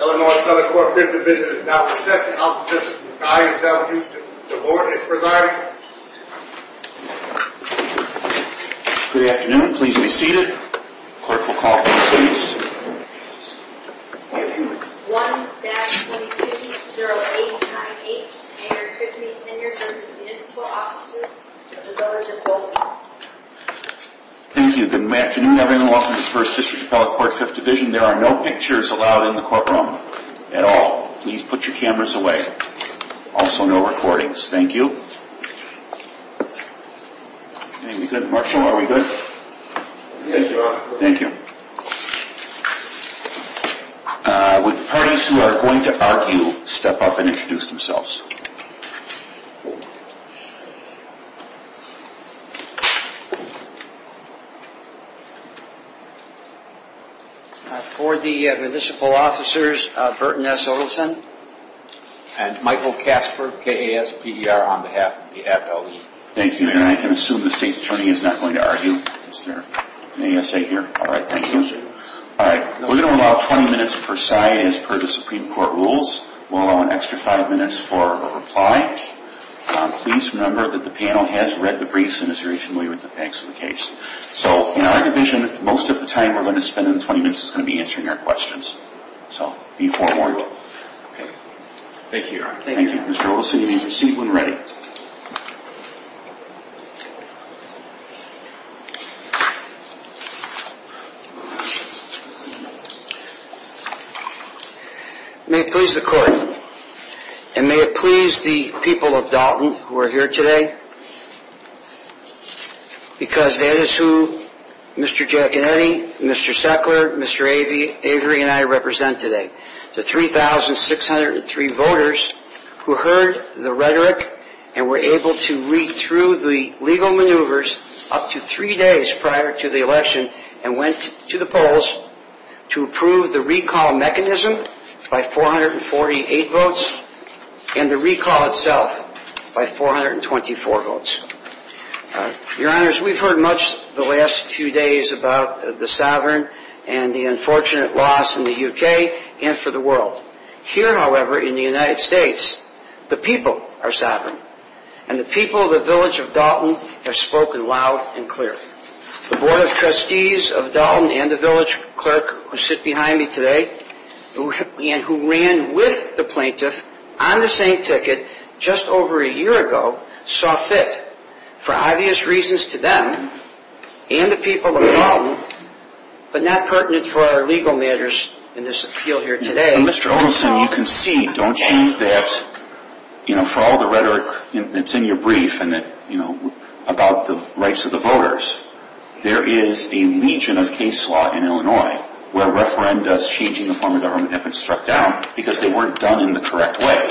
Illinois Appellate Court Fifth Division is now in session. I'll just guide and tell you the board is presiding. Good afternoon. Please be seated. Clerk will call the roll, please. 1-22-0898. Annard v. Municipal Officers of the Village of Dolton. Thank you. Good afternoon everyone and welcome to the First District Appellate Court Fifth Division. There are no pictures allowed in the courtroom at all. Please put your cameras away. Also no recordings. Thank you. Marshall, are we good? Yes, Your Honor. Thank you. Would the parties who are going to argue step up and introduce themselves. For the Municipal Officers, Burton S. Olson and Michael Kasper, KASPER, on behalf of the FLE. Thank you, Your Honor. I can assume the State's Attorney is not going to argue. Is there an ASA here? All right, thank you. We're going to allow 20 minutes per side as per the Supreme Court rules. We'll allow an extra five minutes for a reply. Please remember that the panel has read the briefs and is very familiar with the facts of the case. So, in our division, most of the time we're going to spend in the 20 minutes is going to be answering your questions. So, before we go. Thank you, Your Honor. Thank you. Mr. Olson, you may proceed when ready. May it please the Court and may it please the people of Dalton who are here today. Because that is who Mr. Giaconetti, Mr. Sackler, Mr. Avery and I represent today. The 3,603 voters who heard the rhetoric and were able to read through the legal maneuvers up to three days prior to the election and went to the polls to approve the recall mechanism by 448 votes and the recall itself by 424 votes. Your Honors, we've heard much the last few days about the sovereign and the unfortunate loss in the UK and for the world. Here, however, in the United States, the people are sovereign and the people of the village of Dalton have spoken loud and clear. The Board of Trustees of Dalton and the village clerk who sit behind me today and who ran with the plaintiff on the same ticket just over a year ago saw fit, for obvious reasons to them and the people of Dalton, but not pertinent for our legal matters in this appeal here today. Mr. Olson, you can see, don't you, that for all the rhetoric that's in your brief about the rights of the voters, there is a legion of case law in Illinois where referendas changing the form of government have been struck down because they weren't done in the correct way.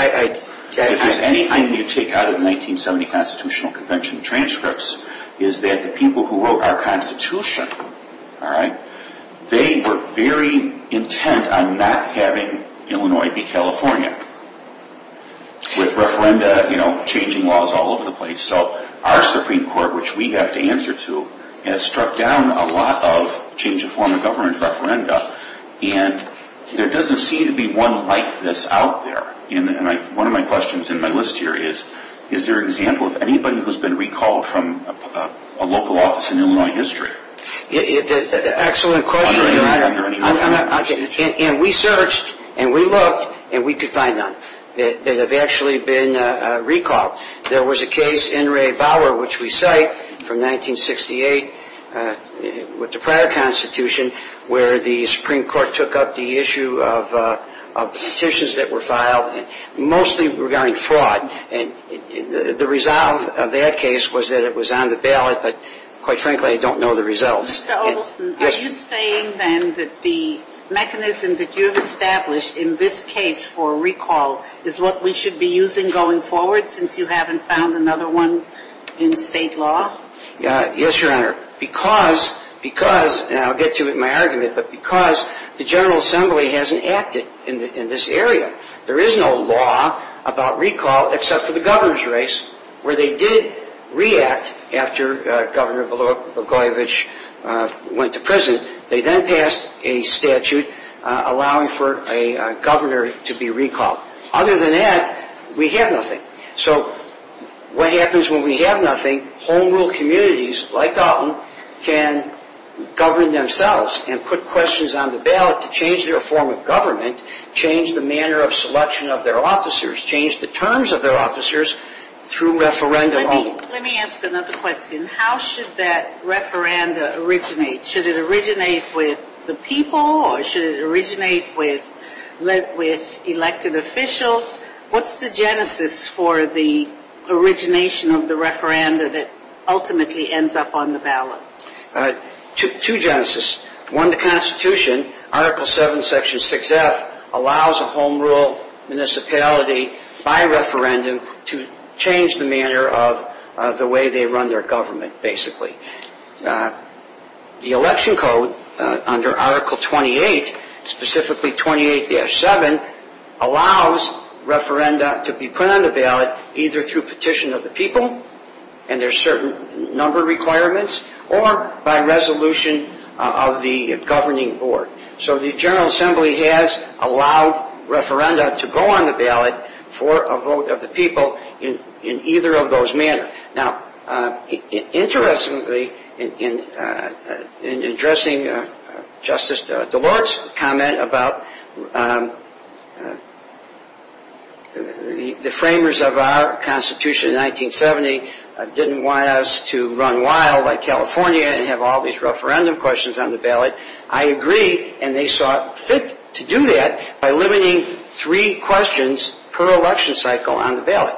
If there's anything you take out of the 1970 Constitutional Convention transcripts is that the people who wrote our Constitution, they were very intent on not having Illinois be California with referenda changing laws all over the place. So our Supreme Court, which we have to answer to, has struck down a lot of change of form of government referenda and there doesn't seem to be one like this out there. One of my questions in my list here is, is there an example of anybody who's been recalled from a local office in Illinois history? Excellent question. We searched and we looked and we could find none that have actually been recalled. There was a case, N. Ray Bower, which we cite from 1968 with the prior Constitution, where the Supreme Court took up the issue of the petitions that were filed, mostly regarding fraud. And the resolve of that case was that it was on the ballot, but quite frankly, I don't know the results. Mr. Olson, are you saying then that the mechanism that you have established in this case for recall is what we should be using going forward since you haven't found another one in state law? Yes, Your Honor. Because, and I'll get to it in my argument, but because the General Assembly hasn't acted in this area. There is no law about recall except for the governor's race, where they did react after Governor Bogoyevich went to prison. They then passed a statute allowing for a governor to be recalled. Other than that, we have nothing. So what happens when we have nothing? Home rule communities, like Dalton, can govern themselves and put questions on the ballot to change their form of government, change the manner of selection of their officers, change the terms of their officers through referendum only. Let me ask another question. How should that referendum originate? Should it originate with the people or should it originate with elected officials? What's the genesis for the origination of the referenda that ultimately ends up on the ballot? Two genesis. One, the Constitution, Article 7, Section 6F, allows a home rule municipality by referendum to change the manner of the way they run their government, basically. The election code under Article 28, specifically 28-7, allows referenda to be put on the ballot either through petition of the people, and there are certain number requirements, or by resolution of the governing board. So the General Assembly has allowed referenda to go on the ballot for a vote of the people in either of those manners. Now, interestingly, in addressing Justice Delors' comment about the framers of our Constitution in 1970 didn't want us to run wild like California and have all these referendum questions on the ballot, I agree, and they saw fit to do that by limiting three questions per election cycle on the ballot.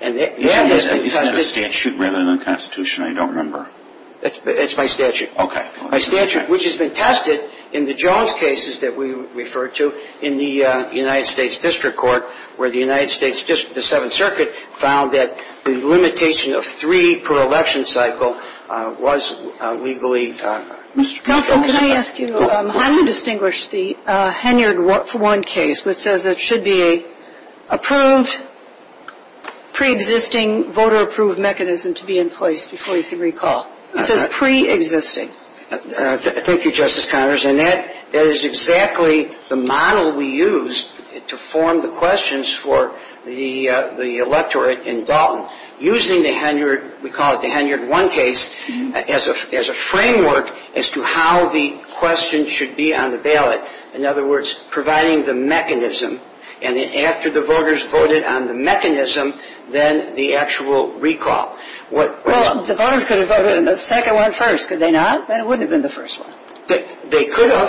Is that a statute rather than a Constitution? I don't remember. It's my statute. Okay. My statute, which has been tested in the Jones cases that we referred to in the United States District Court, where the United States District, the Seventh Circuit, found that the limitation of three per election cycle was legally... Counsel, can I ask you, how do you distinguish the Henyard 1 case, which says it should be an approved, pre-existing, voter-approved mechanism to be in place, before you can recall? It says pre-existing. Thank you, Justice Connors, and that is exactly the model we used to form the questions for the electorate in Dalton, using the Henyard, we call it the Henyard 1 case, as a framework as to how the questions should be on the ballot. In other words, providing the mechanism, and after the voters voted on the mechanism, then the actual recall. Well, the voters could have voted on the second one first, could they not? Then it wouldn't have been the first one. They could have.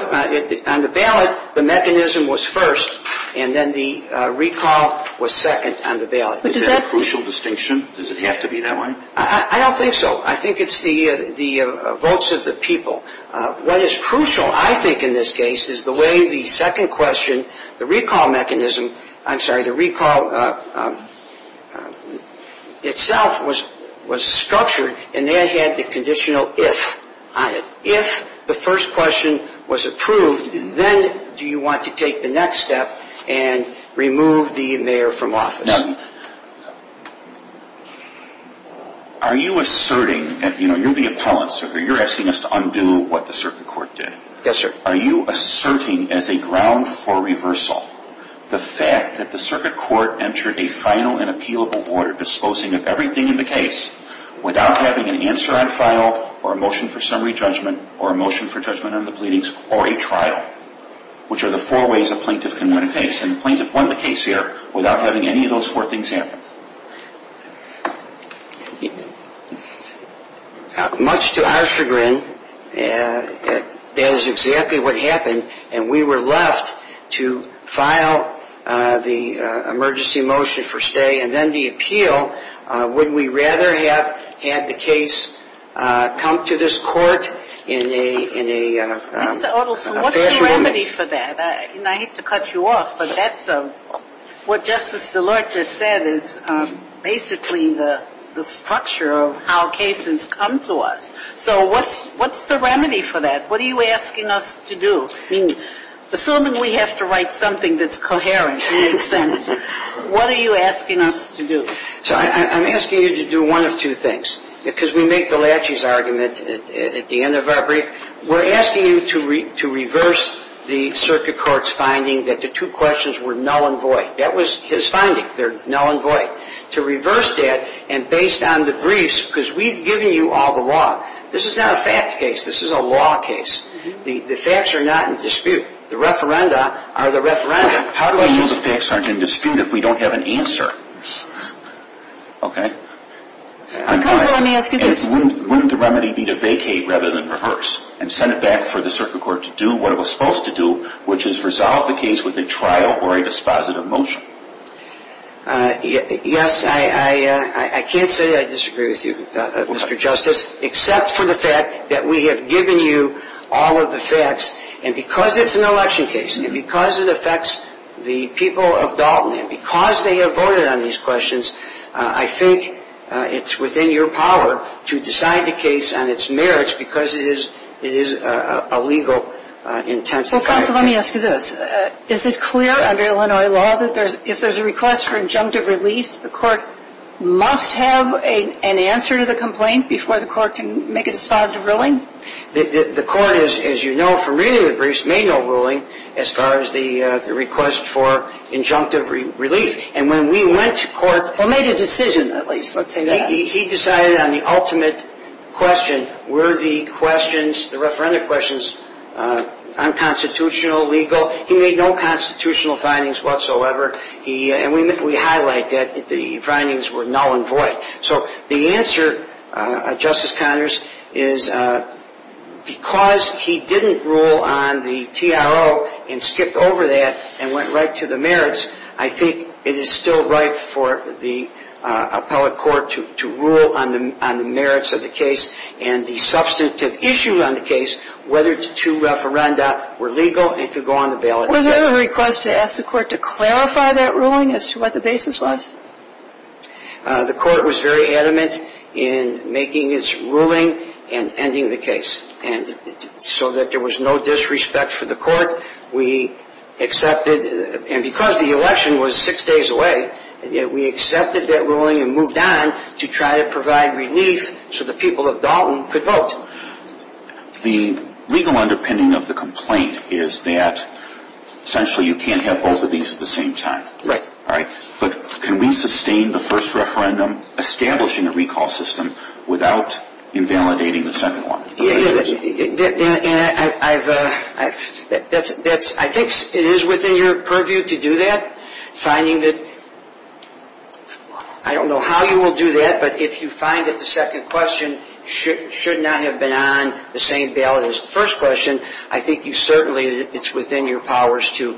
On the ballot, the mechanism was first, and then the recall was second on the ballot. Is that a crucial distinction? Does it have to be that way? I don't think so. I think it's the votes of the people. What is crucial, I think, in this case, is the way the second question, the recall mechanism, I'm sorry, the recall itself was structured, and that had the conditional if on it. If the first question was approved, then do you want to take the next step and remove the mayor from office? Are you asserting, you're the appellant, sir, you're asking us to undo what the circuit court did. Yes, sir. Are you asserting as a ground for reversal, the fact that the circuit court entered a final and appealable order disposing of everything in the case, without having an answer on file, or a motion for summary judgment, or a motion for judgment on the pleadings, or a trial, which are the four ways a plaintiff can win a case, and the plaintiff won the case here without having any of those four things happen? Much to our chagrin, that is exactly what happened, and we were left to file the emergency motion for stay, and then the appeal, would we rather have had the case come to this court in a fashionable manner? Mr. Ottelson, what's the remedy for that? I hate to cut you off, but that's what Justice DeLorte just said is basically the structure of how cases come to us. So what's the remedy for that? What are you asking us to do? I mean, assuming we have to write something that's coherent and makes sense, what are you asking us to do? So I'm asking you to do one of two things, because we make the latches argument at the end of our brief. We're asking you to reverse the circuit court's finding that the two questions were null and void. That was his finding. They're null and void. To reverse that, and based on the briefs, because we've given you all the law. This is not a fact case. This is a law case. The facts are not in dispute. The referenda are the referenda. How do we use a fact search in dispute if we don't have an answer? Okay? Counsel, let me ask you this. Wouldn't the remedy be to vacate rather than reverse and send it back for the circuit court to do what it was supposed to do, which is resolve the case with a trial or a dispositive motion? Yes, I can't say I disagree with you, Mr. Justice, except for the fact that we have given you all of the facts. And because it's an election case, and because it affects the people of Dalton, and because they have voted on these questions, I think it's within your power to decide the case on its merits because it is a legal intensifier. So, counsel, let me ask you this. Is it clear under Illinois law that if there's a request for injunctive relief, the court must have an answer to the complaint before the court can make a dispositive ruling? The court, as you know from reading the briefs, made no ruling as far as the request for injunctive relief. And when we went to court… Well, made a decision, at least. Let's say that. He decided on the ultimate question, were the questions, the referenda questions, unconstitutional, legal? He made no constitutional findings whatsoever. And we highlight that the findings were null and void. So the answer, Justice Connors, is because he didn't rule on the TRO and skipped over that and went right to the merits, I think it is still right for the appellate court to rule on the merits of the case and the substantive issue on the case, whether the two referenda were legal and could go on the balance sheet. Was there a request to ask the court to clarify that ruling as to what the basis was? The court was very adamant in making its ruling and ending the case. So that there was no disrespect for the court, we accepted, and because the election was six days away, we accepted that ruling and moved on to try to provide relief so the people of Dalton could vote. The legal underpinning of the complaint is that essentially you can't have both of these at the same time. Right. But can we sustain the first referendum establishing a recall system without invalidating the second one? I think it is within your purview to do that. I don't know how you will do that, but if you find that the second question should not have been on the same ballot as the first question, I think certainly it's within your powers to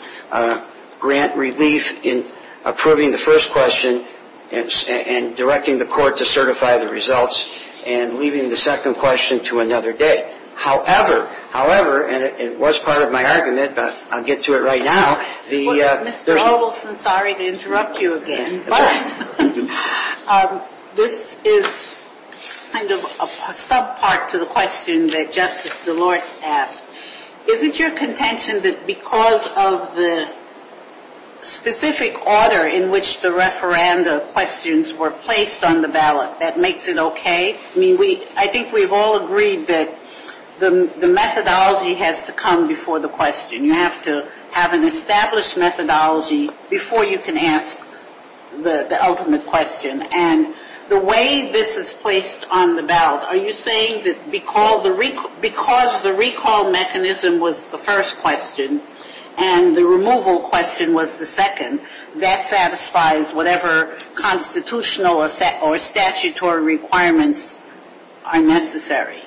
grant relief in approving the first question and directing the court to certify the results and leaving the second question to another day. However, however, and it was part of my argument, but I'll get to it right now. Mr. Obelson, sorry to interrupt you again. That's all right. This is kind of a sub-part to the question that Justice DeLorte asked. Isn't your contention that because of the specific order in which the referendum questions were placed on the ballot, that makes it okay? I mean, I think we've all agreed that the methodology has to come before the question. You have to have an established methodology before you can ask the ultimate question. And the way this is placed on the ballot, are you saying that because the recall mechanism was the first question and the removal question was the second, that satisfies whatever constitutional or statutory requirements are necessary?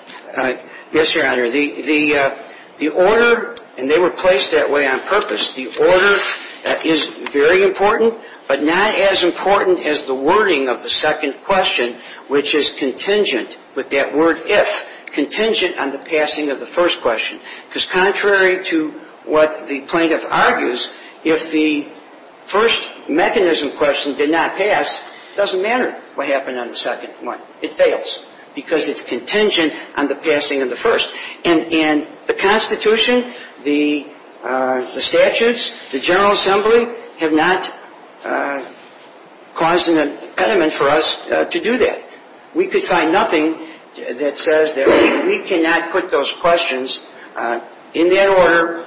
Yes, Your Honor. The order, and they were placed that way on purpose, the order is very important, but not as important as the wording of the second question, which is contingent with that word if, contingent on the passing of the first question. Because contrary to what the plaintiff argues, if the first mechanism question did not pass, it doesn't matter what happened on the second one. It fails because it's contingent on the passing of the first. And the Constitution, the statutes, the General Assembly have not caused an impediment for us to do that. We could find nothing that says that we cannot put those questions in that order,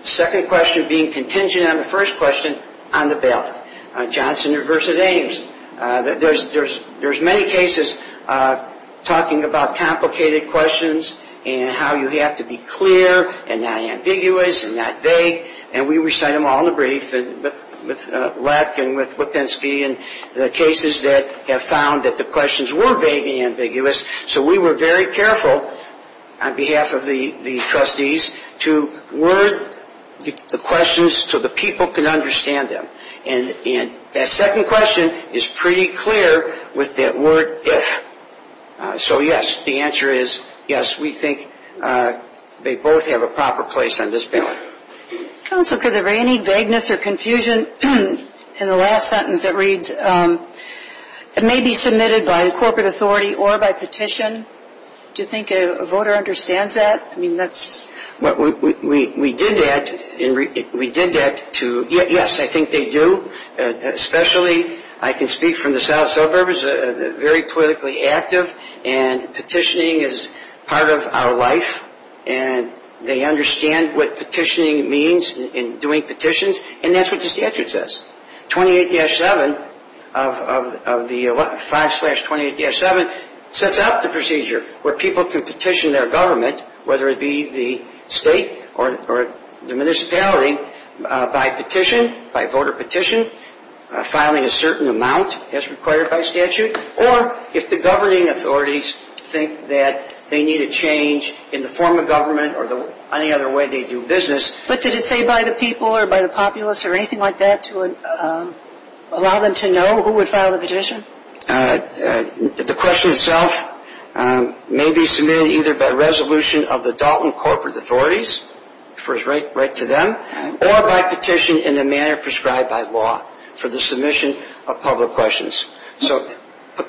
second question being contingent on the first question, on the ballot. Johnson versus Ames. There's many cases talking about complicated questions and how you have to be clear and not ambiguous and not vague, and we recite them all in the brief with Leck and with Lipinski and the cases that have found that the questions were vague and ambiguous, so we were very careful on behalf of the trustees to word the questions so the people can understand them. And that second question is pretty clear with that word if. So yes, the answer is yes, we think they both have a proper place on this ballot. Counsel, could there be any vagueness or confusion in the last sentence that reads, it may be submitted by the corporate authority or by petition? Do you think a voter understands that? We did that and we did that to, yes, I think they do, especially I can speak from the South Suburbs, they're very politically active and petitioning is part of our life and they understand what petitioning means and doing petitions and that's what the statute says. 28-7 of the 5-28-7 sets out the procedure where people can petition their government, whether it be the state or the municipality, by petition, by voter petition, filing a certain amount as required by statute or if the governing authorities think that they need a change in the form of government or any other way they do business. But did it say by the people or by the populace or anything like that to allow them to know who would file the petition? The question itself may be submitted either by resolution of the Dalton corporate authorities, refers right to them, or by petition in the manner prescribed by law for the submission of public questions. So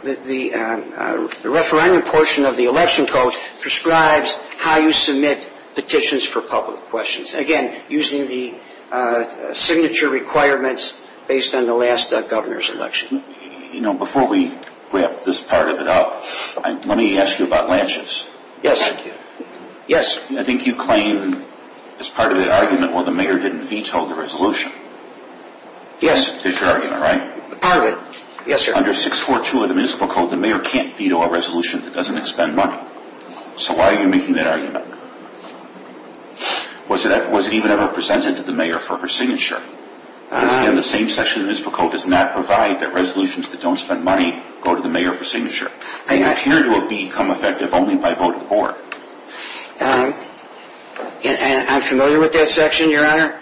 the referendum portion of the election code prescribes how you submit petitions for public questions. Again, using the signature requirements based on the last governor's election. You know, before we wrap this part of it up, let me ask you about Lances. Yes. Yes. I think you claim as part of that argument, well, the mayor didn't veto the resolution. Yes. That's your argument, right? Part of it. Yes, sir. Under 642 of the municipal code, the mayor can't veto a resolution that doesn't expend money. So why are you making that argument? Was it even ever presented to the mayor for her signature? Because again, the same section of the municipal code does not provide that resolutions that don't spend money go to the mayor for signature. They appear to have become effective only by vote of the board. I'm familiar with that section, Your Honor.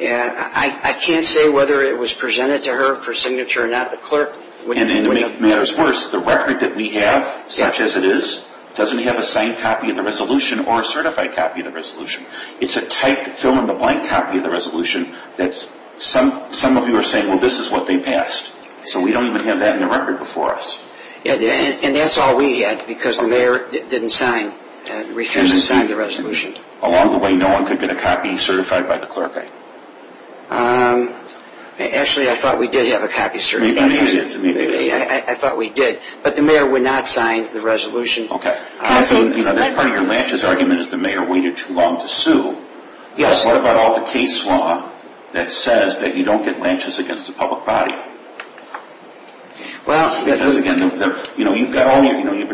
I can't say whether it was presented to her for signature or not. The clerk would have made it. And to make matters worse, the record that we have, such as it is, doesn't have a signed copy of the resolution or a certified copy of the resolution. It's a typed, fill-in-the-blank copy of the resolution that some of you are saying, well, this is what they passed. So we don't even have that in the record before us. And that's all we had because the mayor didn't sign, refused to sign the resolution. Along the way, no one could get a copy certified by the clerk. Actually, I thought we did have a copy certified. Maybe it is. I thought we did. But the mayor would not sign the resolution. This part of your lanches argument is the mayor waited too long to sue. What about all the case law that says that you don't get lanches against the public body? You've been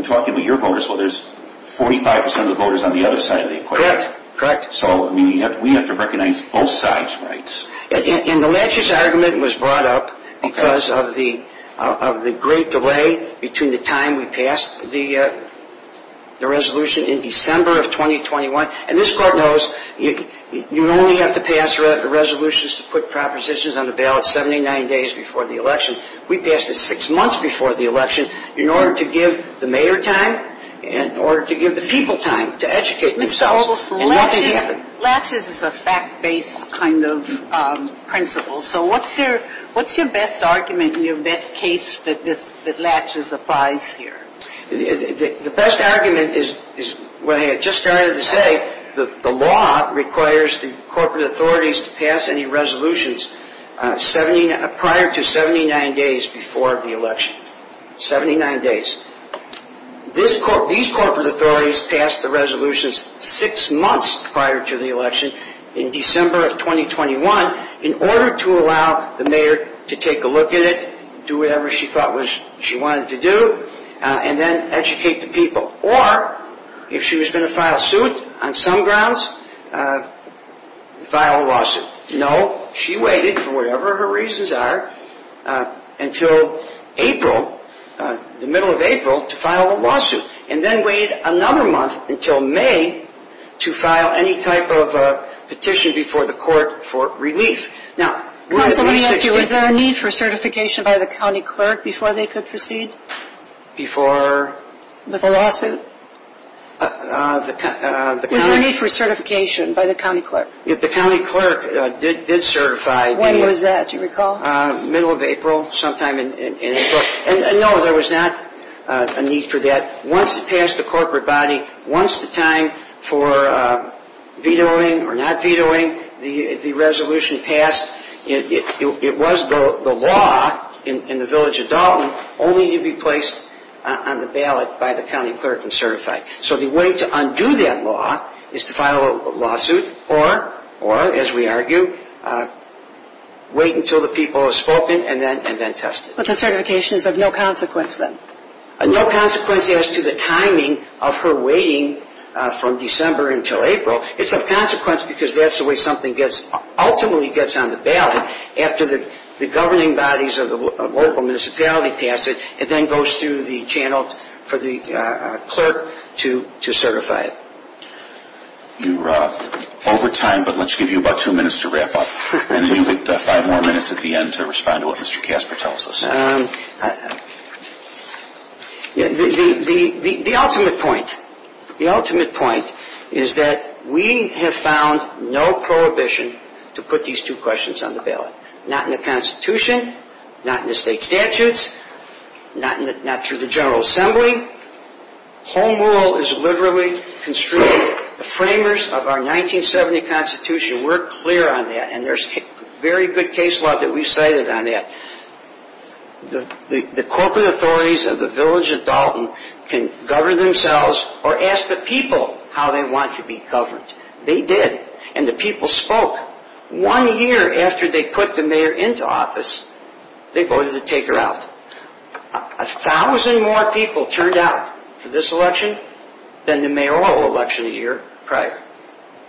talking about your voters. Well, there's 45 percent of the voters on the other side of the equation. Correct. So we have to recognize both sides' rights. And the lanches argument was brought up because of the great delay between the time we passed the resolution in December of 2021. And this court knows you only have to pass resolutions to put propositions on the ballot 79 days before the election. We passed it six months before the election in order to give the mayor time, in order to give the people time to educate themselves. Lanches is a fact-based kind of principle. So what's your best argument and your best case that lanches applies here? The best argument is what I just started to say. The law requires the corporate authorities to pass any resolutions prior to 79 days before the election. 79 days. These corporate authorities passed the resolutions six months prior to the election in December of 2021 in order to allow the mayor to take a look at it, do whatever she thought she wanted to do, and then educate the people. Or if she was going to file suit on some grounds, file a lawsuit. No, she waited, for whatever her reasons are, until April, the middle of April, to file a lawsuit, and then waited another month until May to file any type of petition before the court for relief. Counsel, let me ask you, was there a need for certification by the county clerk before they could proceed? Before? With a lawsuit? Was there a need for certification by the county clerk? If the county clerk did certify the- When was that, do you recall? Middle of April, sometime in April. And no, there was not a need for that. Once it passed the corporate body, once the time for vetoing or not vetoing the resolution passed, it was the law in the village of Dalton only to be placed on the ballot by the county clerk and certified. So the way to undo that law is to file a lawsuit or, as we argue, wait until the people have spoken and then test it. But the certification is of no consequence then? No consequence as to the timing of her waiting from December until April. It's of consequence because that's the way something ultimately gets on the ballot After the governing bodies of the local municipality pass it, it then goes through the channel for the clerk to certify it. You're over time, but let's give you about two minutes to wrap up. And then you get five more minutes at the end to respond to what Mr. Casper tells us. The ultimate point, the ultimate point is that we have found no prohibition to put these two questions on the ballot. Not in the Constitution, not in the state statutes, not through the General Assembly. Home rule is literally construed. The framers of our 1970 Constitution were clear on that. And there's very good case law that we've cited on that. The corporate authorities of the village of Dalton can govern themselves or ask the people how they want to be governed. They did, and the people spoke. One year after they put the mayor into office, they voted to take her out. A thousand more people turned out for this election than the mayoral election a year prior.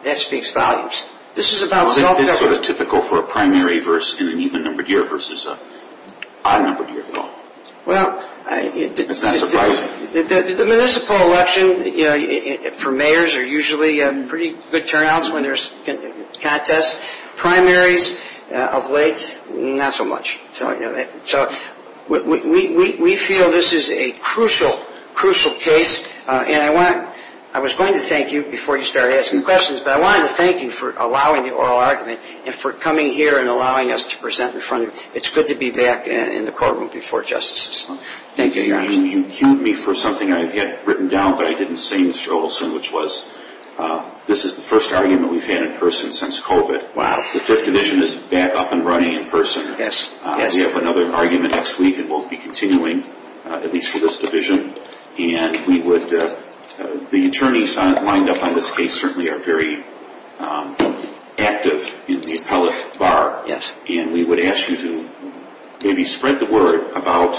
That speaks volumes. This is about self-government. Isn't this sort of typical for a primary verse in an even-numbered year versus an odd-numbered year at all? Well, the municipal election for mayors are usually pretty good turnouts when there's contests. Primaries of late, not so much. So we feel this is a crucial, crucial case. I was going to thank you before you started asking questions, but I wanted to thank you for allowing the oral argument and for coming here and allowing us to present in front of you. It's good to be back in the courtroom before justices. Thank you. You queued me for something I had written down, but I didn't say, Mr. Olson, which was, this is the first argument we've had in person since COVID. Wow. The 5th Division is back up and running in person. We have another argument next week, and we'll be continuing, at least for this division. And we would, the attorneys lined up on this case certainly are very active in the appellate bar. Yes. And we would ask you to maybe spread the word about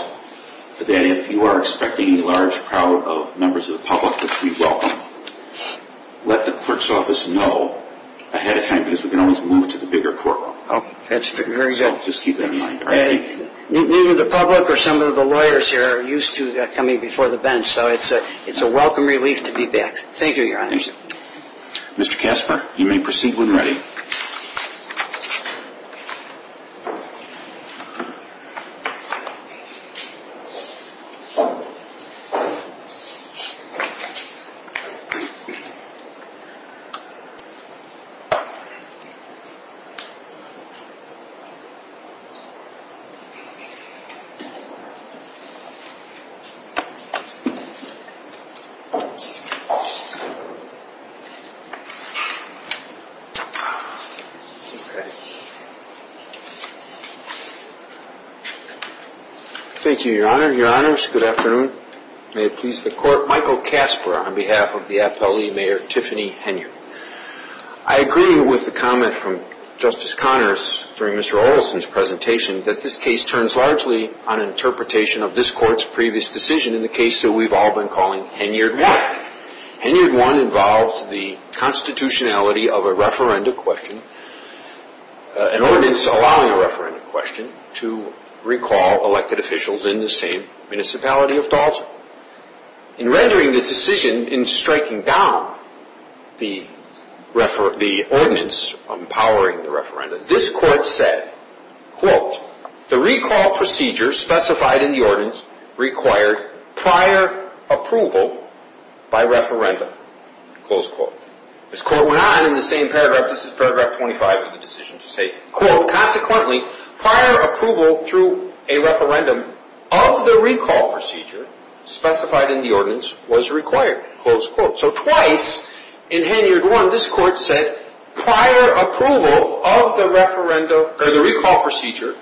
that if you are expecting any large crowd of members of the public, which we welcome, let the clerk's office know ahead of time, because we can always move to the bigger courtroom. Oh, that's very good. So just keep that in mind. Neither the public or some of the lawyers here are used to coming before the bench, so it's a welcome relief to be back. Thank you, Your Honor. Mr. Kasper, you may proceed when ready. Okay. Thank you, Your Honor. Your Honors, good afternoon. May it please the Court. Michael Kasper on behalf of the appellee, Mayor Tiffany Heno. I agree with the comment from Justice Connors during Mr. Olson's presentation that this case turns largely on interpretation of this Court's previous decision in the case that we've all been calling Henyard 1. Henyard 1 involves the constitutionality of a referenda question, an ordinance allowing a referenda question, to recall elected officials in the same municipality of Dalton. In rendering this decision in striking down the ordinance empowering the referenda, this Court said, quote, the recall procedure specified in the ordinance required prior approval by referenda, close quote. This Court went on in the same paragraph, this is paragraph 25 of the decision to say, quote, consequently prior approval through a referendum of the recall procedure specified in the ordinance was required, close quote. So twice in Henyard 1 this Court said prior approval of the referenda or the recall procedure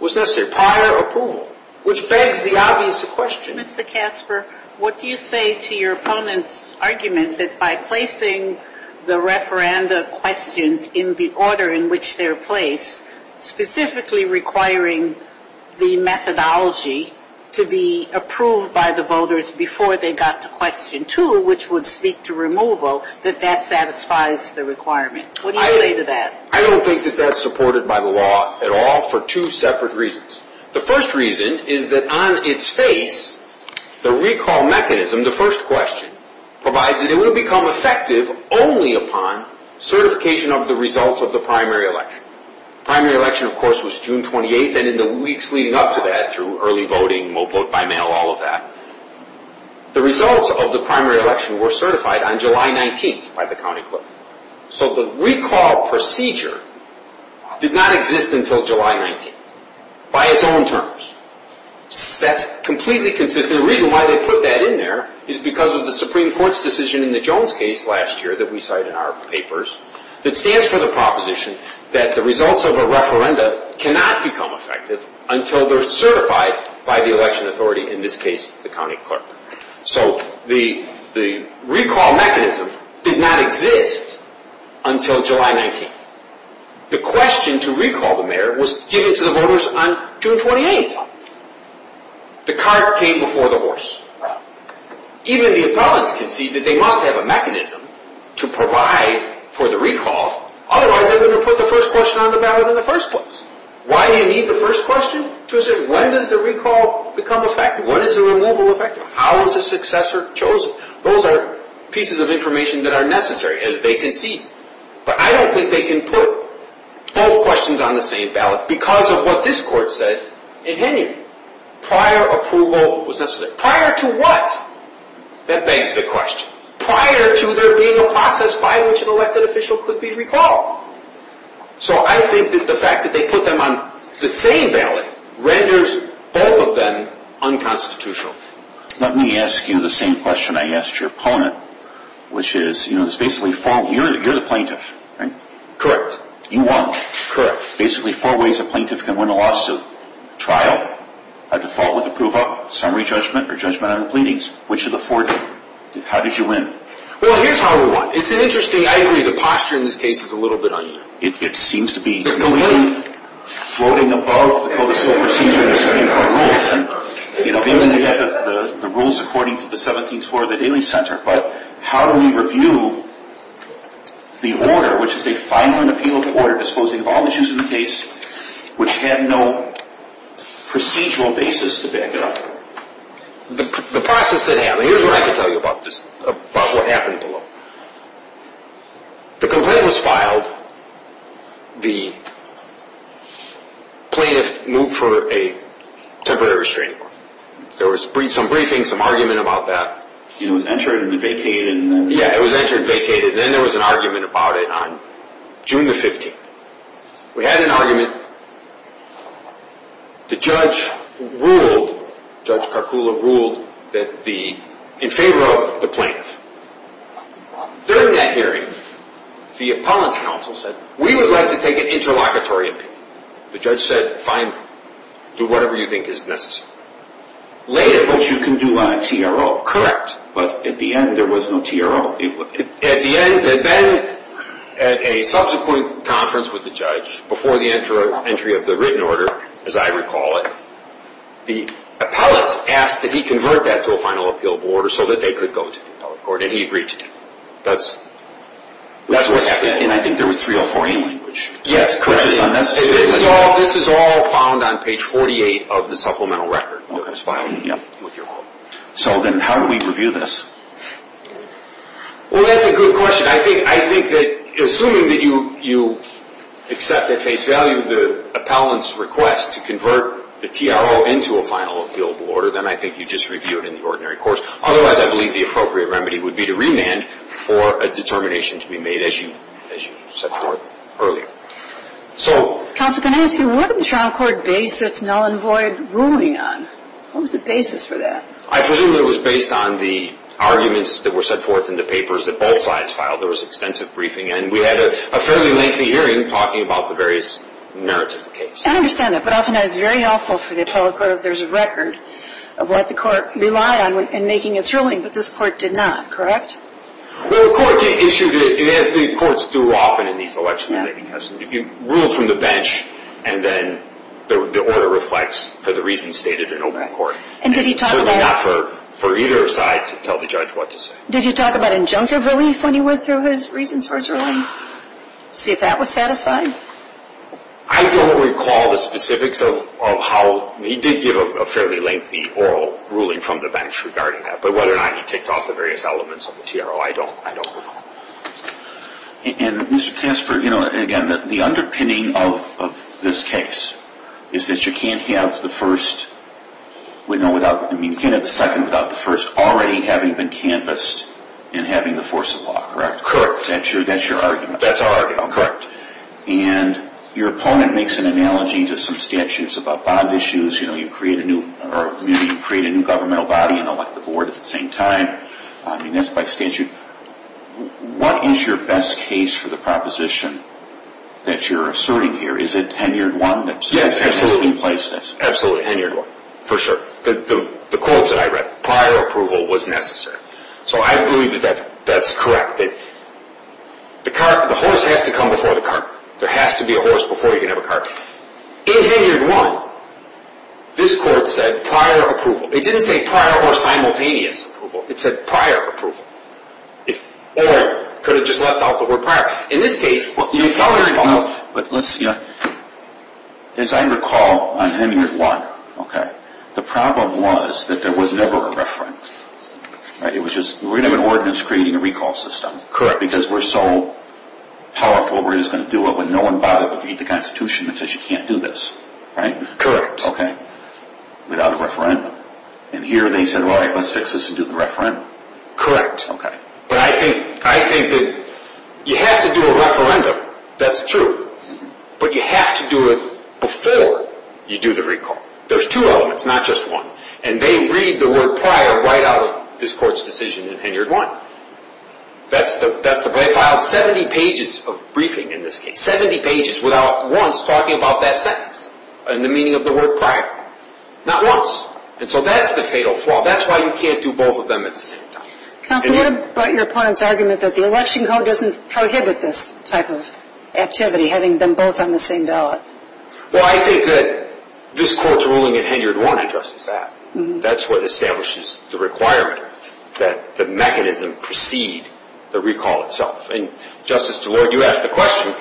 was necessary, prior approval, which begs the obvious question. Mr. Kasper, what do you say to your opponent's argument that by placing the referenda questions in the order in which they're placed, specifically requiring the methodology to be approved by the voters before they got to question 2, which would speak to removal, that that satisfies the requirement? What do you say to that? I don't think that that's supported by the law at all for two separate reasons. The first reason is that on its face, the recall mechanism, the first question, provides that it would have become effective only upon certification of the results of the primary election. Primary election, of course, was June 28th, and in the weeks leading up to that through early voting, vote by mail, all of that, the results of the primary election were certified on July 19th by the county clerk. So the recall procedure did not exist until July 19th by its own terms. That's completely consistent. And the reason why they put that in there is because of the Supreme Court's decision in the Jones case last year that we cite in our papers that stands for the proposition that the results of a referenda cannot become effective until they're certified by the election authority, in this case, the county clerk. So the recall mechanism did not exist until July 19th. The question to recall the mayor was given to the voters on June 28th. The cart came before the horse. Even the appellants conceded they must have a mechanism to provide for the recall. Otherwise, they wouldn't have put the first question on the ballot in the first place. Why do you need the first question? When does the recall become effective? When is the removal effective? How is the successor chosen? Those are pieces of information that are necessary, as they concede. But I don't think they can put both questions on the same ballot because of what this court said in Henry. Prior approval was necessary. Prior to what? That begs the question. Prior to there being a process by which an elected official could be recalled. So I think that the fact that they put them on the same ballot renders both of them unconstitutional. Let me ask you the same question I asked your opponent, which is, you know, Correct. You won. Correct. Basically, four ways a plaintiff can win a lawsuit. Trial, a default with approval, summary judgment, or judgment on the pleadings. Which of the four did you win? How did you win? Well, here's how I won. It's interesting. I agree, the posture in this case is a little bit uneven. It seems to be floating above the codicil procedure in the Supreme Court rules. The rules according to the 17th floor of the Daily Center. But how do we review the order, which is a final and appealable order disposing of all the issues in the case, which had no procedural basis to back it up? The process that happened, here's what I can tell you about this, about what happened below. The complaint was filed. The plaintiff moved for a temporary restraining order. There was some briefing, some argument about that. It was entered and vacated. Yeah, it was entered and vacated. Then there was an argument about it on June the 15th. We had an argument. The judge ruled, Judge Karkula ruled, in favor of the plaintiff. During that hearing, the appellant's counsel said, we would like to take an interlocutory appeal. The judge said, fine, do whatever you think is necessary. Later, but you can do a TRO. Correct. But at the end, there was no TRO. At the end, then, at a subsequent conference with the judge, before the entry of the written order, as I recall it, the appellant asked that he convert that to a final appealable order so that they could go to the appellate court. And he agreed to do it. That's what happened. And I think there was 304A language. Yes, correct. This is all found on page 48 of the supplemental record that was filed with your court. So then how do we review this? Well, that's a good question. I think that assuming that you accept at face value the appellant's request to convert the TRO into a final appealable order, then I think you just review it in the ordinary course. Otherwise, I believe the appropriate remedy would be to remand for a determination to be made, as you set forth earlier. Counsel, can I ask you, what did the trial court base its null and void ruling on? What was the basis for that? I presume it was based on the arguments that were set forth in the papers that both sides filed. There was extensive briefing. And we had a fairly lengthy hearing talking about the various narrative cases. I understand that. But often that is very helpful for the appellate court if there's a record of what the court relied on in making its ruling, but this court did not, correct? Well, the court issued it, as the courts do often in these elections, you rule from the bench and then the order reflects for the reasons stated in open court. And did he talk about? Certainly not for either side to tell the judge what to say. Did he talk about injunctive relief when he went through his reasons for his ruling to see if that was satisfied? I don't recall the specifics of how he did give a fairly lengthy oral ruling from the bench regarding that, but whether or not he ticked off the various elements of the TRO, I don't recall. And, Mr. Casper, you know, again, the underpinning of this case is that you can't have the first, I mean, you can't have the second without the first already having been canvassed and having the force of law, correct? Correct. That's your argument? That's our argument, correct. And your opponent makes an analogy to some statutes about bond issues. You know, you create a new governmental body and elect the board at the same time. I mean, that's by statute. What is your best case for the proposition that you're asserting here? Is it Henriot 1? Yes, absolutely. Absolutely, Henriot 1. For sure. The quotes that I read, prior approval was necessary. So I believe that that's correct, that the horse has to come before the cart. There has to be a horse before you can have a cart. In Henriot 1, this court said prior approval. It didn't say prior or simultaneous approval. It said prior approval. Or it could have just left out the word prior. In this case, you know, as I recall on Henriot 1, okay, the problem was that there was never a referendum. Right? It was just we're going to have an ordinance creating a recall system. Correct. Because we're so powerful, we're just going to do it when no one bothered with the Constitution that says you can't do this. Right? Correct. Okay. Without a referendum. And here they said, well, all right, let's fix this and do the referendum. Correct. Okay. But I think that you have to do a referendum. That's true. But you have to do it before you do the recall. There's two elements, not just one. And they read the word prior right out of this court's decision in Henriot 1. They filed 70 pages of briefing in this case, 70 pages without once talking about that sentence and the meaning of the word prior. Not once. And so that's the fatal flaw. That's why you can't do both of them at the same time. Counsel, what about your opponent's argument that the election code doesn't prohibit this type of activity, having them both on the same ballot? Well, I think that this court's ruling in Henriot 1 addresses that. That's what establishes the requirement that the mechanism precede the recall itself. And, Justice DeLoy, you asked the question,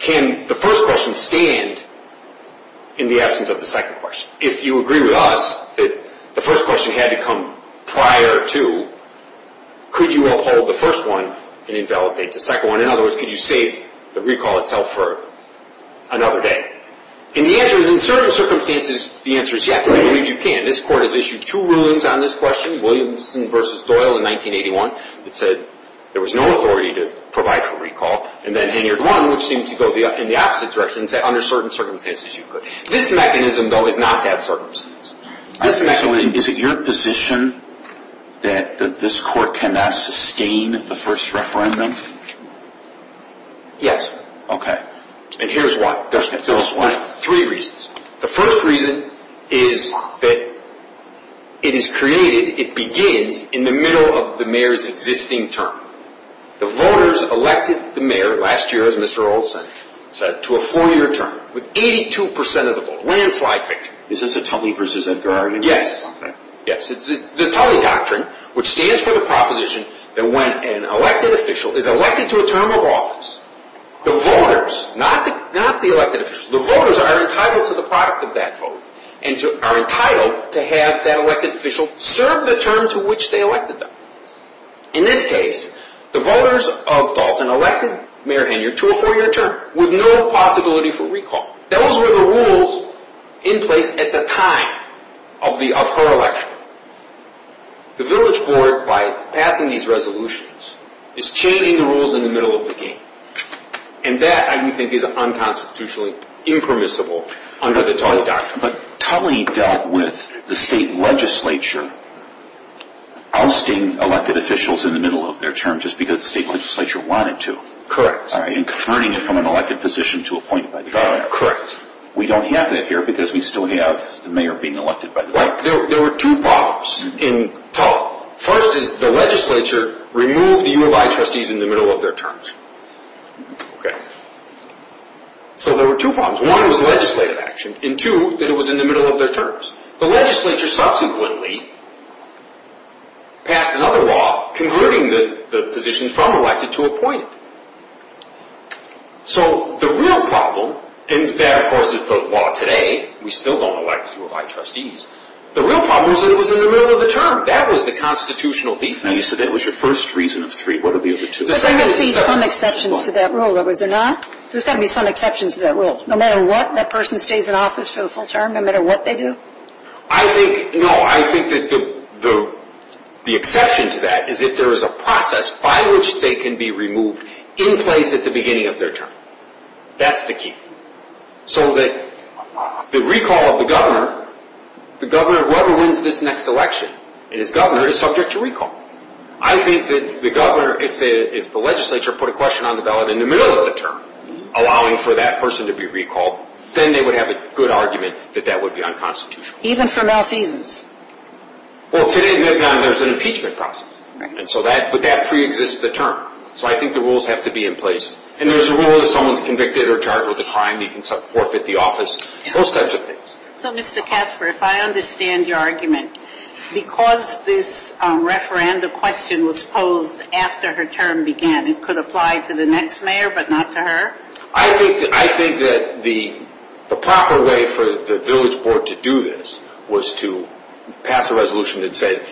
can the first question stand in the absence of the second question? If you agree with us that the first question had to come prior to, could you uphold the first one and invalidate the second one? In other words, could you save the recall itself for another day? And the answer is, in certain circumstances, the answer is yes. I believe you can. This court has issued two rulings on this question, Williamson v. Doyle in 1981. It said there was no authority to provide for recall. And then Henriot 1, which seemed to go in the opposite direction, said under certain circumstances you could. This mechanism, though, has not had circumstances. Is it your position that this court cannot sustain the first referendum? Yes. Okay. And here's why. Just tell us why. Three reasons. The first reason is that it is created, it begins in the middle of the mayor's existing term. The voters elected the mayor last year as Mr. Olsen to a four-year term with 82 percent of the vote. Landslide victory. Is this a Tully v. Edgar Arnett? Yes. Yes. It's the Tully Doctrine, which stands for the proposition that when an elected official is elected to a term of office, the voters, not the elected officials, the voters are entitled to the product of that vote and are entitled to have that elected official serve the term to which they elected them. In this case, the voters of Dalton elected Mayor Henriot to a four-year term with no possibility for recall. Those were the rules in place at the time of her election. The village board, by passing these resolutions, is changing the rules in the middle of the game. And that, I do think, is unconstitutionally impermissible under the Tully Doctrine. But Tully dealt with the state legislature ousting elected officials in the middle of their term just because the state legislature wanted to. Correct. And converting it from an elected position to appointed by the governor. Correct. We don't have that here because we still have the mayor being elected by the governor. There were two problems in Tully. First is the legislature removed the U of I trustees in the middle of their terms. So there were two problems. One, it was legislative action. And two, that it was in the middle of their terms. The legislature subsequently passed another law converting the positions from elected to appointed. So the real problem, and that, of course, is the law today. We still don't elect U of I trustees. The real problem is that it was in the middle of the term. That was the constitutional defeat. So that was your first reason of three. What are the other two? But there must be some exceptions to that rule, though, is there not? There's got to be some exceptions to that rule. No matter what, that person stays in office for the full term, no matter what they do? I think, no, I think that the exception to that is if there is a process by which they can be removed in place at the beginning of their term. That's the key. So that the recall of the governor, the governor whoever wins this next election and is governor is subject to recall. I think that the governor, if the legislature put a question on the ballot in the middle of the term, allowing for that person to be recalled, then they would have a good argument that that would be unconstitutional. Even for malfeasance? Well, today in VidCon, there's an impeachment process. But that pre-exists the term. So I think the rules have to be in place. And there's a rule that if someone's convicted or charged with a crime, you can forfeit the office, those types of things. So, Mr. Casper, if I understand your argument, because this referendum question was posed after her term began, it could apply to the next mayor, but not to her? I think that the proper way for the village board to do this was to pass a resolution that said,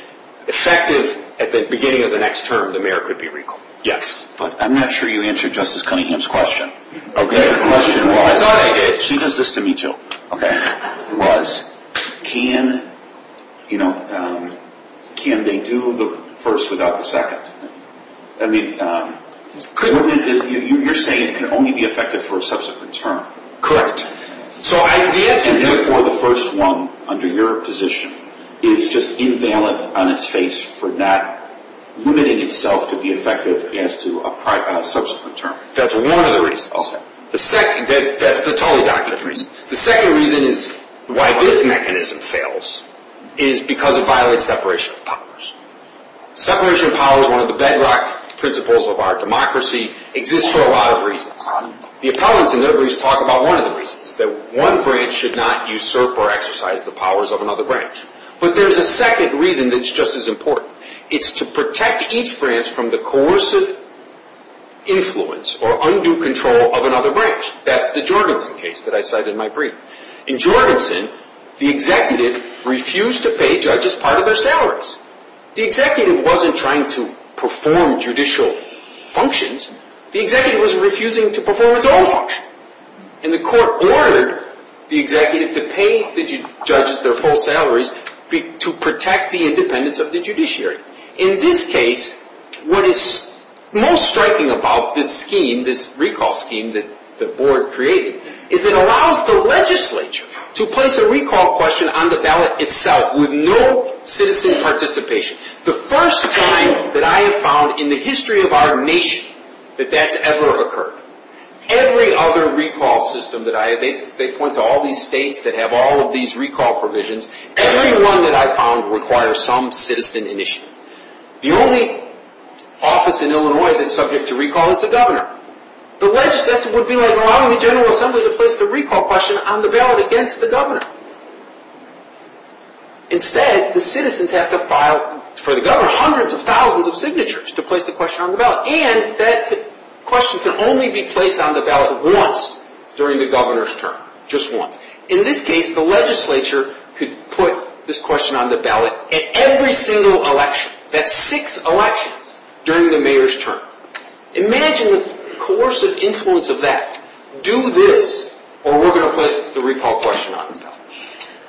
effective at the beginning of the next term, the mayor could be recalled. Yes. But I'm not sure you answered Justice Cunningham's question. Okay. I thought I did. She does this to me, too. Okay. It was, can, you know, can they do the first without the second? I mean, you're saying it can only be effective for a subsequent term. Correct. And therefore, the first one under your position is just invalid on its face for not limiting itself to be effective as to a subsequent term. That's one of the reasons. Okay. That's the totally documented reason. The second reason is why this mechanism fails is because it violates separation of powers. Separation of powers, one of the bedrock principles of our democracy, exists for a lot of reasons. The appellants in their briefs talk about one of the reasons, that one branch should not usurp or exercise the powers of another branch. But there's a second reason that's just as important. It's to protect each branch from the coercive influence or undue control of another branch. That's the Jorgensen case that I cited in my brief. In Jorgensen, the executive refused to pay judges part of their salaries. The executive wasn't trying to perform judicial functions. The executive was refusing to perform its own function. And the court ordered the executive to pay the judges their full salaries to protect the independence of the judiciary. In this case, what is most striking about this scheme, this recall scheme that the board created, is it allows the legislature to place a recall question on the ballot itself with no citizen participation. The first time that I have found in the history of our nation that that's ever occurred. Every other recall system that I have, they point to all these states that have all of these recall provisions. Every one that I've found requires some citizen initiative. The only office in Illinois that's subject to recall is the governor. The legislature would be like allowing the General Assembly to place the recall question on the ballot against the governor. Instead, the citizens have to file for the governor hundreds of thousands of signatures to place the question on the ballot. And that question can only be placed on the ballot once during the governor's term. Just once. In this case, the legislature could put this question on the ballot at every single election. That's six elections during the mayor's term. Imagine the coercive influence of that. Do this, or we're going to place the recall question on the ballot.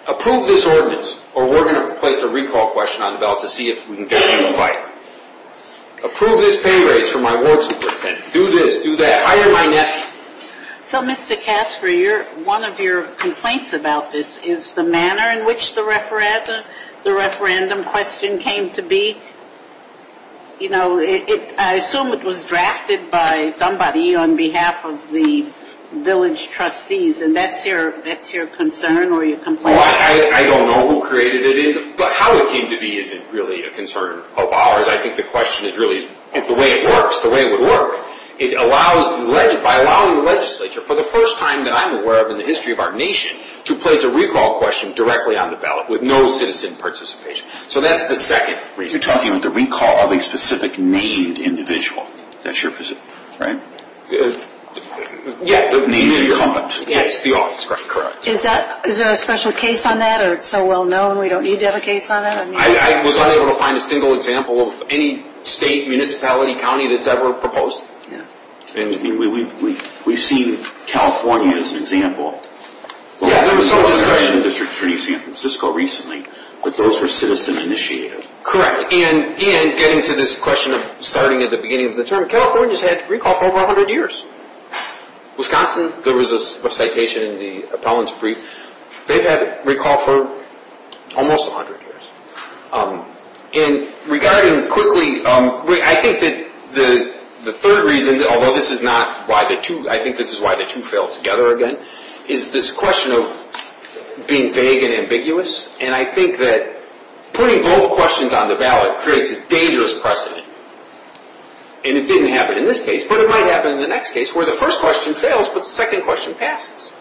Approve this ordinance, or we're going to place the recall question on the ballot to see if we can get them to fight. Approve this pay raise for my ward superintendent. Do this, do that. Hire my nephew. So, Mr. Casper, one of your complaints about this is the manner in which the referendum question came to be. You know, I assume it was drafted by somebody on behalf of the village trustees, and that's your concern or your complaint? I don't know who created it, but how it came to be isn't really a concern of ours. I think the question is really is the way it works, the way it would work. It allows, by allowing the legislature, for the first time that I'm aware of in the history of our nation, to place a recall question directly on the ballot with no citizen participation. So that's the second reason. You're talking about the recall of a specific named individual. That's your position, right? Yeah. The named incumbent. Yes, the office. Correct. Is there a special case on that, or it's so well known we don't need to have a case on that? I was unable to find a single example of any state, municipality, county that's ever proposed. Yeah. I mean, we've seen California as an example. Yeah, there was some discussion in District Attorney San Francisco recently that those were citizen-initiated. Correct. And getting to this question of starting at the beginning of the term, California's had recall for over 100 years. Wisconsin, there was a citation in the appellant's brief. They've had recall for almost 100 years. And regarding quickly, I think that the third reason, although this is not why the two, I think this is why the two fell together again, is this question of being vague and ambiguous. And I think that putting both questions on the ballot creates a dangerous precedent. And it didn't happen in this case, but it might happen in the next case where the first question fails, but the second question passes.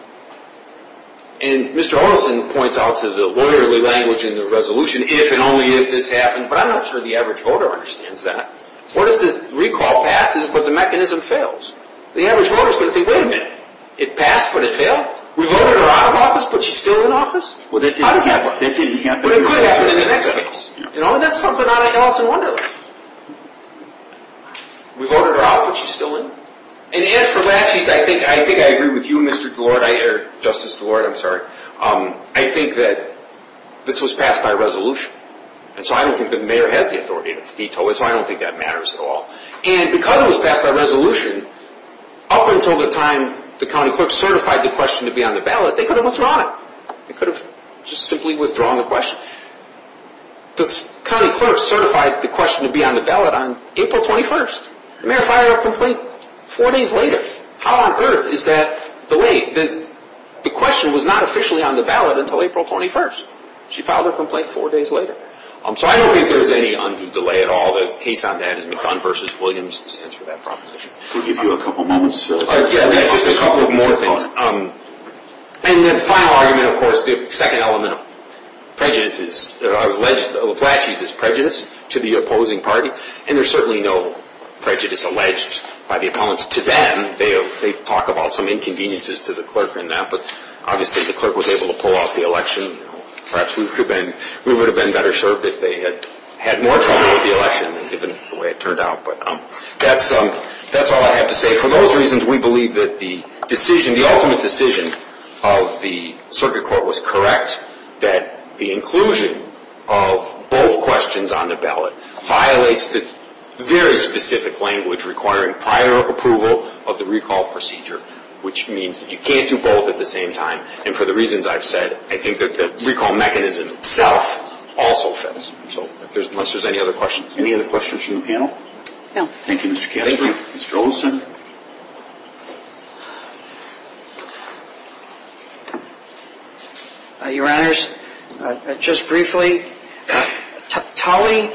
And Mr. Olson points out to the lawyerly language in the resolution, if and only if this happens, but I'm not sure the average voter understands that. What if the recall passes, but the mechanism fails? The average voter's going to think, wait a minute, it passed, but it failed? We voted her out of office, but she's still in office? Well, that didn't happen. But it could happen in the next case. You know, and that's something that I also wonder about. We voted her out, but she's still in? And as for laches, I think I agree with you, Mr. DeLorde, or Justice DeLorde, I'm sorry. I think that this was passed by resolution. And so I don't think the mayor has the authority to veto it, so I don't think that matters at all. And because it was passed by resolution, up until the time the county clerk certified the question to be on the ballot, they could have withdrawn it. They could have just simply withdrawn the question. But the county clerk certified the question to be on the ballot on April 21st. The mayor filed her complaint four days later. How on earth is that delayed? The question was not officially on the ballot until April 21st. She filed her complaint four days later. So I don't think there's any undue delay at all. The case on that is McCunn v. Williams. Let's answer that proposition. We'll give you a couple moments. Yeah, just a couple of more things. And the final argument, of course, the second element of prejudice is, I would allege that Laplacius is prejudiced to the opposing party. And there's certainly no prejudice alleged by the opponents to them. They talk about some inconveniences to the clerk in that. But obviously the clerk was able to pull off the election. Perhaps we would have been better served if they had had more trouble with the election, given the way it turned out. But that's all I have to say. For those reasons, we believe that the decision, the ultimate decision of the circuit court was correct, that the inclusion of both questions on the ballot violates the very specific language requiring prior approval of the recall procedure, which means that you can't do both at the same time. And for the reasons I've said, I think that the recall mechanism itself also fails. So unless there's any other questions. Any other questions from the panel? No. Thank you, Mr. Kastner. Thank you, Mr. Olson. Your Honors, just briefly, Tully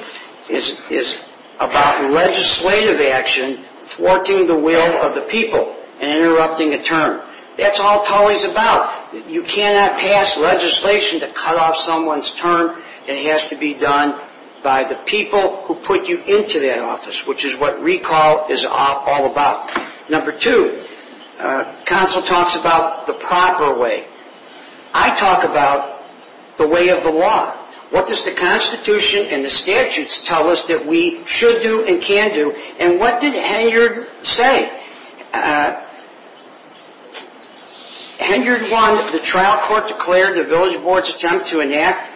is about legislative action thwarting the will of the people and interrupting a term. That's all Tully's about. You cannot pass legislation to cut off someone's term. It has to be done by the people who put you into that office, which is what recall is all about. Number two, counsel talks about the proper way. I talk about the way of the law. What does the Constitution and the statutes tell us that we should do and can do? And what did Hengard say? Hengard one, the trial court declared the village board's attempt to enact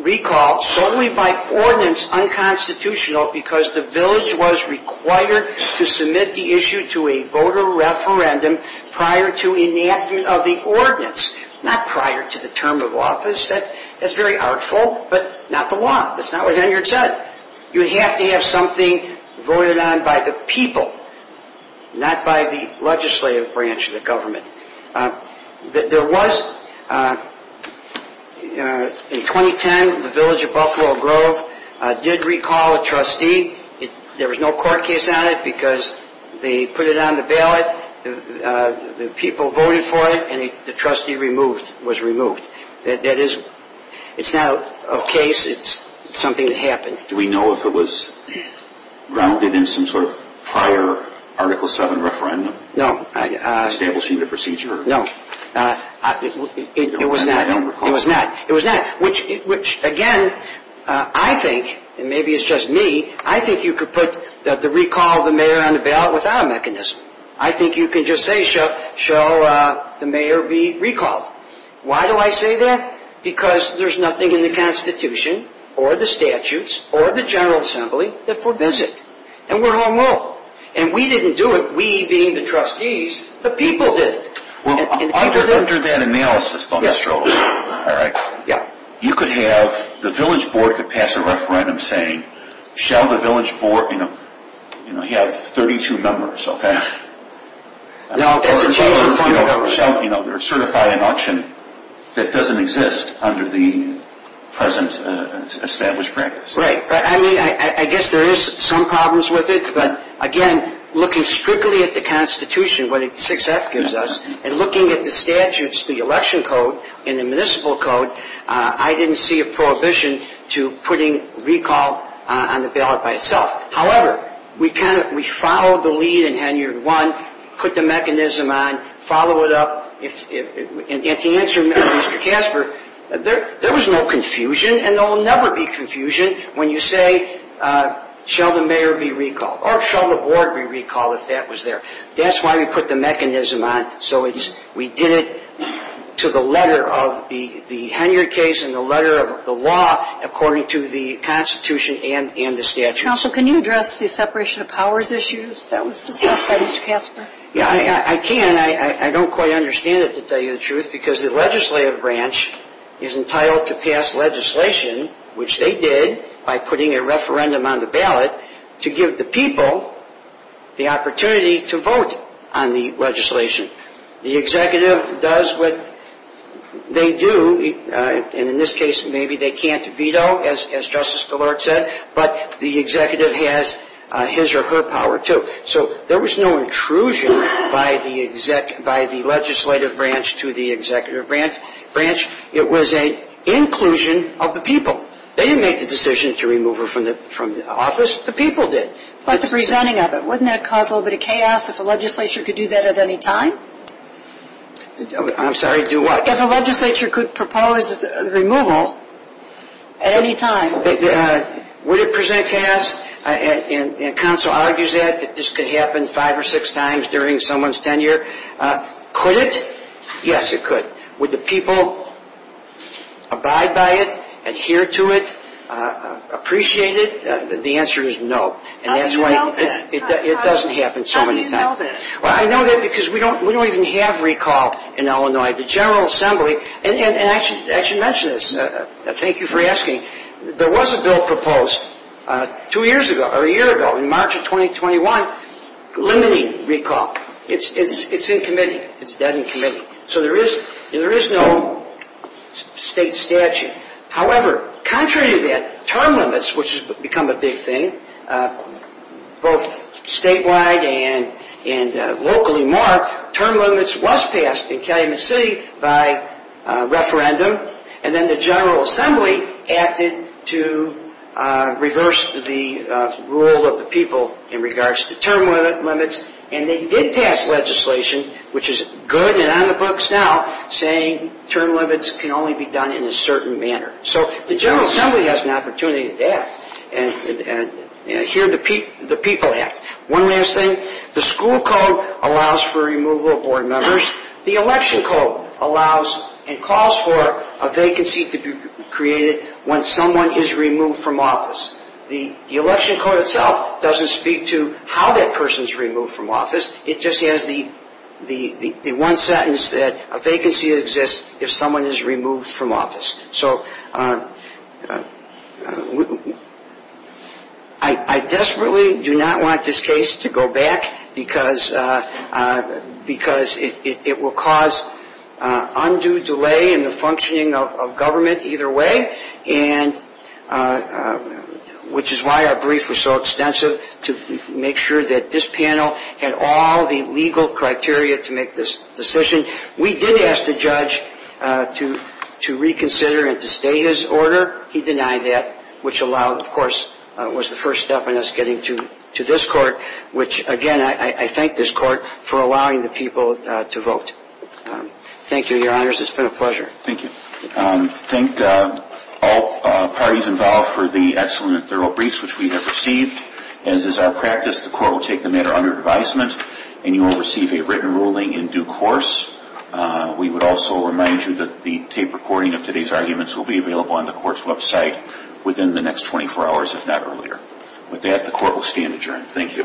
recall solely by ordinance was unconstitutional because the village was required to submit the issue to a voter referendum prior to enactment of the ordinance, not prior to the term of office. That's very artful, but not the law. That's not what Hengard said. You have to have something voted on by the people, not by the legislative branch of the government. There was, in 2010, the village of Buffalo Grove did recall a trustee. There was no court case on it because they put it on the ballot, the people voted for it, and the trustee was removed. That is, it's not a case. It's something that happened. Do we know if it was grounded in some sort of prior Article VII referendum? No. Stable procedure? No. It was not. It was not. It was not, which, again, I think, and maybe it's just me, I think you could put the recall of the mayor on the ballot without a mechanism. I think you could just say, show the mayor be recalled. Why do I say that? Because there's nothing in the Constitution or the statutes or the General Assembly that forbids it. And we're home rule. And we didn't do it, we being the trustees, the people did. Well, under that analysis, though, Mr. Olson, all right, you could have the village board could pass a referendum saying, shall the village board, you know, you have 32 members, okay? No, that's a change in funding. You know, they're certified in auction. That doesn't exist under the present established practice. Right. I mean, I guess there is some problems with it. But, again, looking strictly at the Constitution, what 6F gives us, and looking at the statutes, the election code and the municipal code, I didn't see a prohibition to putting recall on the ballot by itself. However, we kind of we followed the lead in Henry I, put the mechanism on, followed it up, and to answer Mr. Casper, there was no confusion, and there will never be confusion when you say, shall the mayor be recalled or shall the board be recalled if that was there. That's why we put the mechanism on. So we did it to the letter of the Henry case and the letter of the law according to the Constitution and the statutes. Counsel, can you address the separation of powers issues that was discussed by Mr. Casper? Yeah, I can. I don't quite understand it, to tell you the truth, because the legislative branch is entitled to pass legislation, which they did by putting a referendum on the ballot, to give the people the opportunity to vote on the legislation. The executive does what they do, and in this case maybe they can't veto, as Justice Gillard said, but the executive has his or her power too. So there was no intrusion by the legislative branch to the executive branch. It was an inclusion of the people. They didn't make the decision to remove her from the office, the people did. But the presenting of it, wouldn't that cause a little bit of chaos if a legislature could do that at any time? I'm sorry, do what? If a legislature could propose removal at any time. Would it present chaos? Counsel argues that this could happen five or six times during someone's tenure. Could it? Yes, it could. Would the people abide by it, adhere to it, appreciate it? The answer is no. How do you know that? It doesn't happen so many times. How do you know that? Well, I know that because we don't even have recall in Illinois. And I should mention this. Thank you for asking. There was a bill proposed two years ago, or a year ago, in March of 2021, limiting recall. It's in committee. It's dead in committee. So there is no state statute. However, contrary to that, term limits, which has become a big thing, both statewide and locally more, term limits was passed in Calumet City by referendum. And then the General Assembly acted to reverse the rule of the people in regards to term limits. And they did pass legislation, which is good and on the books now, saying term limits can only be done in a certain manner. So the General Assembly has an opportunity to act. And here the people act. One last thing. The school code allows for removal of board members. The election code allows and calls for a vacancy to be created when someone is removed from office. The election code itself doesn't speak to how that person is removed from office. It just has the one sentence that a vacancy exists if someone is removed from office. So I desperately do not want this case to go back because it will cause undue delay in the functioning of government either way, which is why our brief was so extensive, to make sure that this panel had all the legal criteria to make this decision. We did ask the judge to reconsider and to stay his order. He denied that, which allowed, of course, was the first step in us getting to this court, which, again, I thank this court for allowing the people to vote. Thank you, Your Honors. It's been a pleasure. Thank you. Thank all parties involved for the excellent, thorough briefs which we have received. As is our practice, the court will take the matter under advisement and you will receive a written ruling in due course. We would also remind you that the tape recording of today's arguments will be available on the court's website within the next 24 hours, if not earlier. With that, the court will stand adjourned. Thank you.